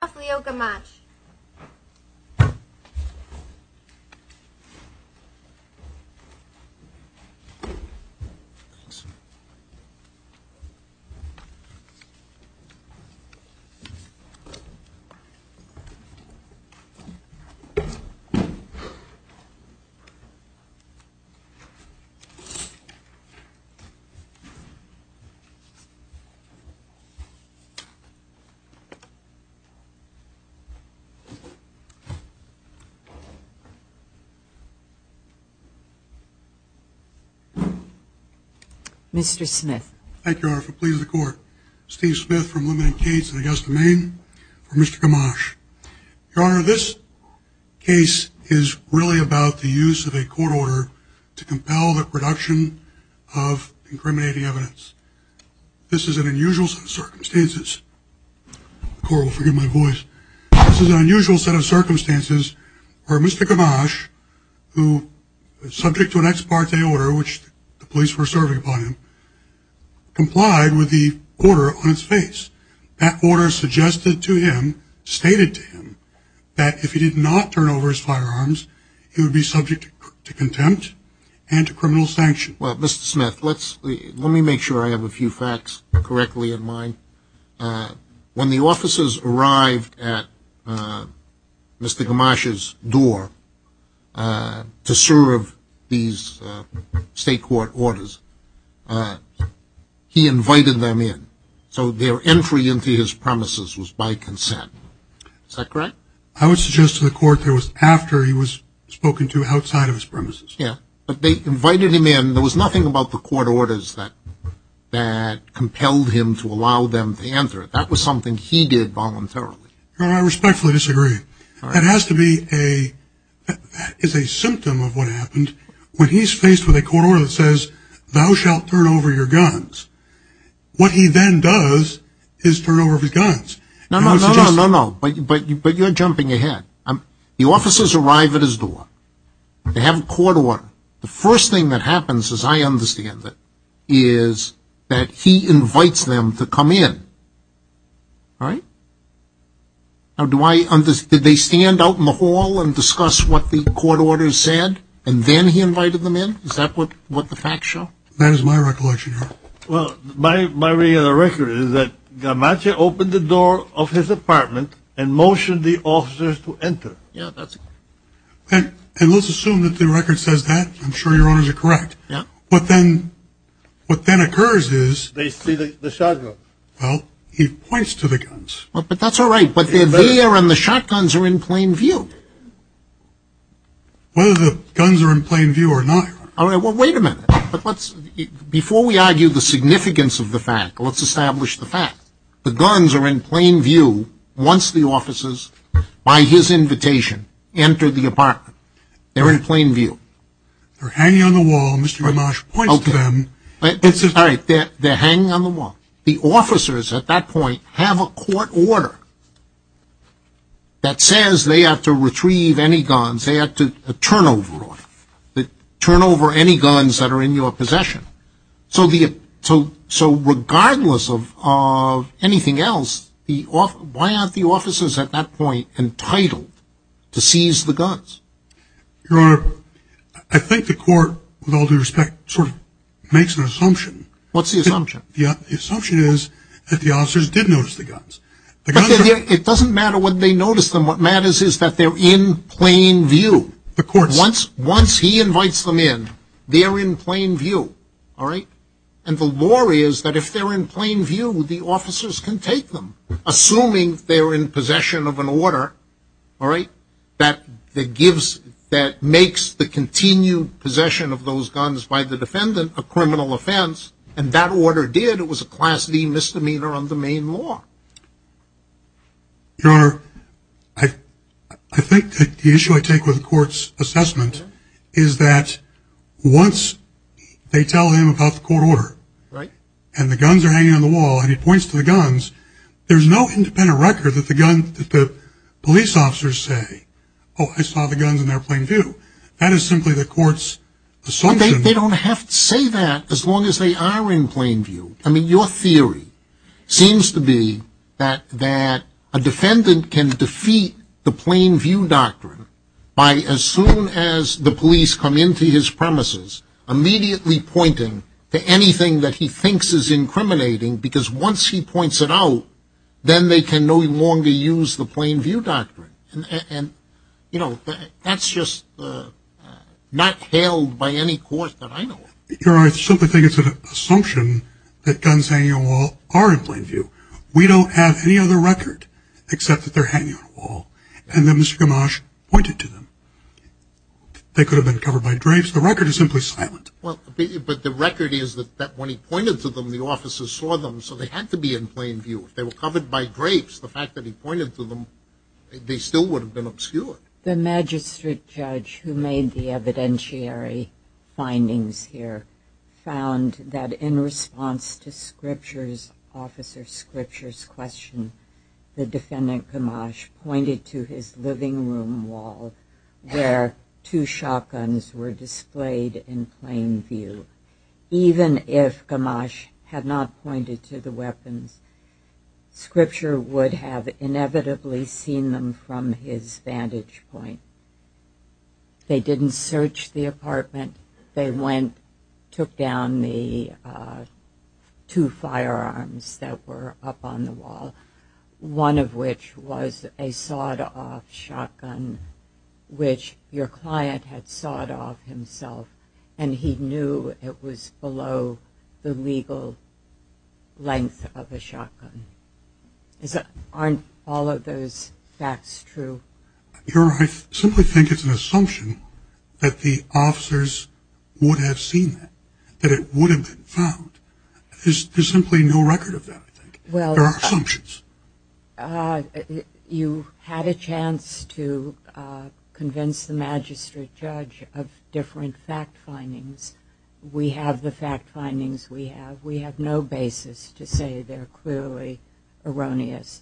Off we go, Gamache. Mr. Smith. Thank you, Your Honor, for pleasing the court. Steve Smith from Limited Cades in Augusta, Maine, for Mr. Gamache. Your Honor, this case is really about the use of a court order to compel the production of incriminating evidence. This is an unusual set of circumstances. The court will forgive my voice. This is an unusual set of circumstances where Mr. Gamache, who is subject to an ex parte order, which the police were serving upon him, complied with the order on its face. That order suggested to him, stated to him, that if he did not turn over his firearms, he would be subject to contempt and to criminal sanction. Well, Mr. Smith, let me make sure I have a few facts correctly in mind. When the officers arrived at Mr. Gamache's door to serve these state court orders, he invited them in. So their entry into his premises was by consent. Is that correct? I would suggest to the court that it was after he was spoken to outside of his premises. Yeah, but they invited him in. There was nothing about the court orders that compelled him to allow them to enter. That was something he did voluntarily. Your Honor, I respectfully disagree. That is a symptom of what happened. When he's faced with a court order that says, thou shalt turn over your guns, what he then does is turn over his guns. No, no, no, but you're jumping ahead. The officers arrive at his door. They have a court order. The first thing that happens, as I understand it, is that he invites them to come in. Now, did they stand out in the hall and discuss what the court orders said, and then he invited them in? Is that what the facts show? Well, my reading of the record is that Gamache opened the door of his apartment and motioned the officers to enter. Yeah, that's correct. And let's assume that the record says that. I'm sure your Honors are correct. Yeah. What then occurs is... They see the shotgun. Well, he points to the guns. But that's all right, but their veer and the shotguns are in plain view. Whether the guns are in plain view or not, Your Honor. All right, well, wait a minute. Before we argue the significance of the fact, let's establish the fact. The guns are in plain view once the officers, by his invitation, enter the apartment. They're in plain view. They're hanging on the wall. Mr. Gamache points to them. All right, they're hanging on the wall. The officers at that point have a court order that says they have to retrieve any guns. They have to turn over any guns that are in your possession. So regardless of anything else, why aren't the officers at that point entitled to seize the guns? Your Honor, I think the court, with all due respect, sort of makes an assumption. What's the assumption? The assumption is that the officers did notice the guns. It doesn't matter whether they noticed them. What matters is that they're in plain view. Once he invites them in, they're in plain view. And the law is that if they're in plain view, the officers can take them, assuming they're in possession of an order that makes the continued possession of those guns by the defendant a criminal offense. And that order did. It was a Class D misdemeanor under Maine law. Your Honor, I think the issue I take with the court's assessment is that once they tell him about the court order and the guns are hanging on the wall and he points to the guns, there's no independent record that the police officers say, oh, I saw the guns in their plain view. That is simply the court's assumption. Well, they don't have to say that as long as they are in plain view. I mean, your theory seems to be that a defendant can defeat the plain view doctrine by, as soon as the police come into his premises, immediately pointing to anything that he thinks is incriminating because once he points it out, then they can no longer use the plain view doctrine. And, you know, that's just not held by any court that I know of. Your Honor, I simply think it's an assumption that guns hanging on the wall are in plain view. We don't have any other record except that they're hanging on the wall. And then Mr. Gamache pointed to them. They could have been covered by drapes. The record is simply silent. But the record is that when he pointed to them, the officers saw them, so they had to be in plain view. If they were covered by drapes, the fact that he pointed to them, they still would have been obscured. The magistrate judge who made the evidentiary findings here found that in response to Officer Scripture's question, the defendant, Gamache, pointed to his living room wall where two shotguns were displayed in plain view. Even if Gamache had not pointed to the weapons, Scripture would have inevitably seen them from his vantage point. They didn't search the apartment. They went, took down the two firearms that were up on the wall, one of which was a sawed-off shotgun, which your client had sawed off himself, and he knew it was below the legal length of a shotgun. Aren't all of those facts true? Your Honor, I simply think it's an assumption that the officers would have seen that, that it would have been found. There's simply no record of that, I think. There are assumptions. You had a chance to convince the magistrate judge of different fact findings. We have the fact findings we have. We have no basis to say they're clearly erroneous.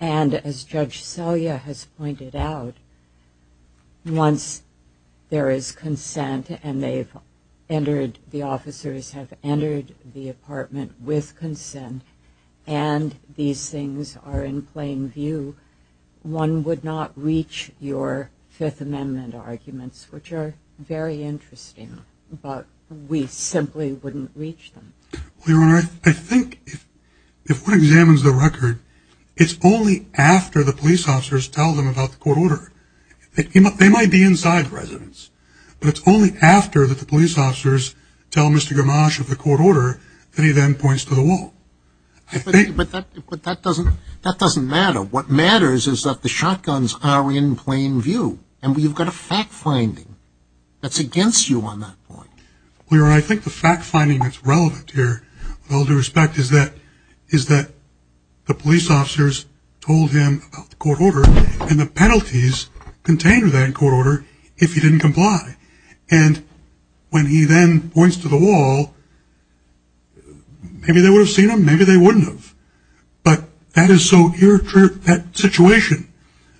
And as Judge Selye has pointed out, once there is consent and the officers have entered the apartment with consent and these things are in plain view, one would not reach your Fifth Amendment arguments, which are very interesting, but we simply wouldn't reach them. Well, Your Honor, I think if one examines the record, it's only after the police officers tell them about the court order. They might be inside the residence, but it's only after that the police officers tell Mr. Gamache of the court order that he then points to the wall. But that doesn't matter. What matters is that the shotguns are in plain view, and you've got a fact finding that's against you on that point. Well, Your Honor, I think the fact finding that's relevant here, with all due respect, is that the police officers told him about the court order, and the penalties contained in that court order if he didn't comply. And when he then points to the wall, maybe they would have seen him, maybe they wouldn't have. But that situation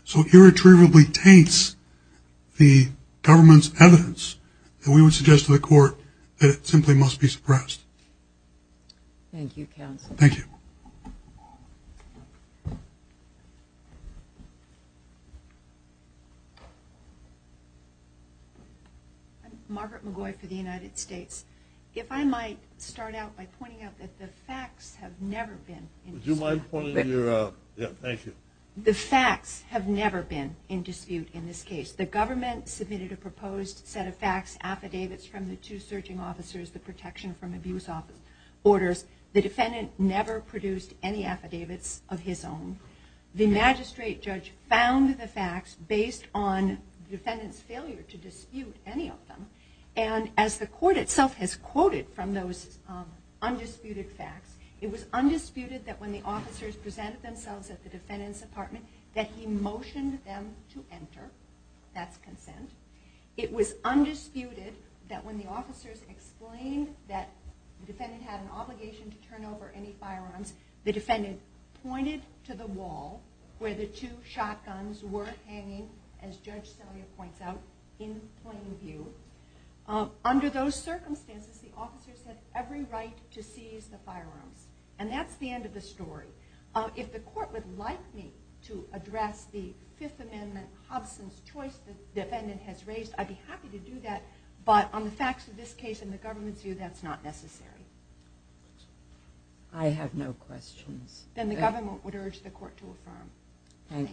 so irretrievably taints the government's evidence that we would suggest to the court that it simply must be suppressed. Thank you, counsel. Thank you. I'm Margaret McGoy for the United States. If I might start out by pointing out that the facts have never been in dispute. Would you mind pointing your, yeah, thank you. The facts have never been in dispute in this case. The government submitted a proposed set of facts, affidavits, from the two searching officers, the protection from abuse orders. The defendant never produced any affidavits of his own. The magistrate judge found the facts based on the defendant's failure to dispute any of them. And as the court itself has quoted from those undisputed facts, it was undisputed that when the officers presented themselves at the defendant's apartment that he motioned them to enter. That's consent. It was undisputed that when the officers explained that the defendant had an obligation to turn over any firearms, the defendant pointed to the wall where the two shotguns were hanging, as Judge Celia points out, in plain view. Under those circumstances, the officers had every right to seize the firearms. And that's the end of the story. If the court would like me to address the Fifth Amendment, Hobson's choice the defendant has raised, I'd be happy to do that. But on the facts of this case, in the government's view, that's not necessary. I have no questions. Then the government would urge the court to affirm. Thank you.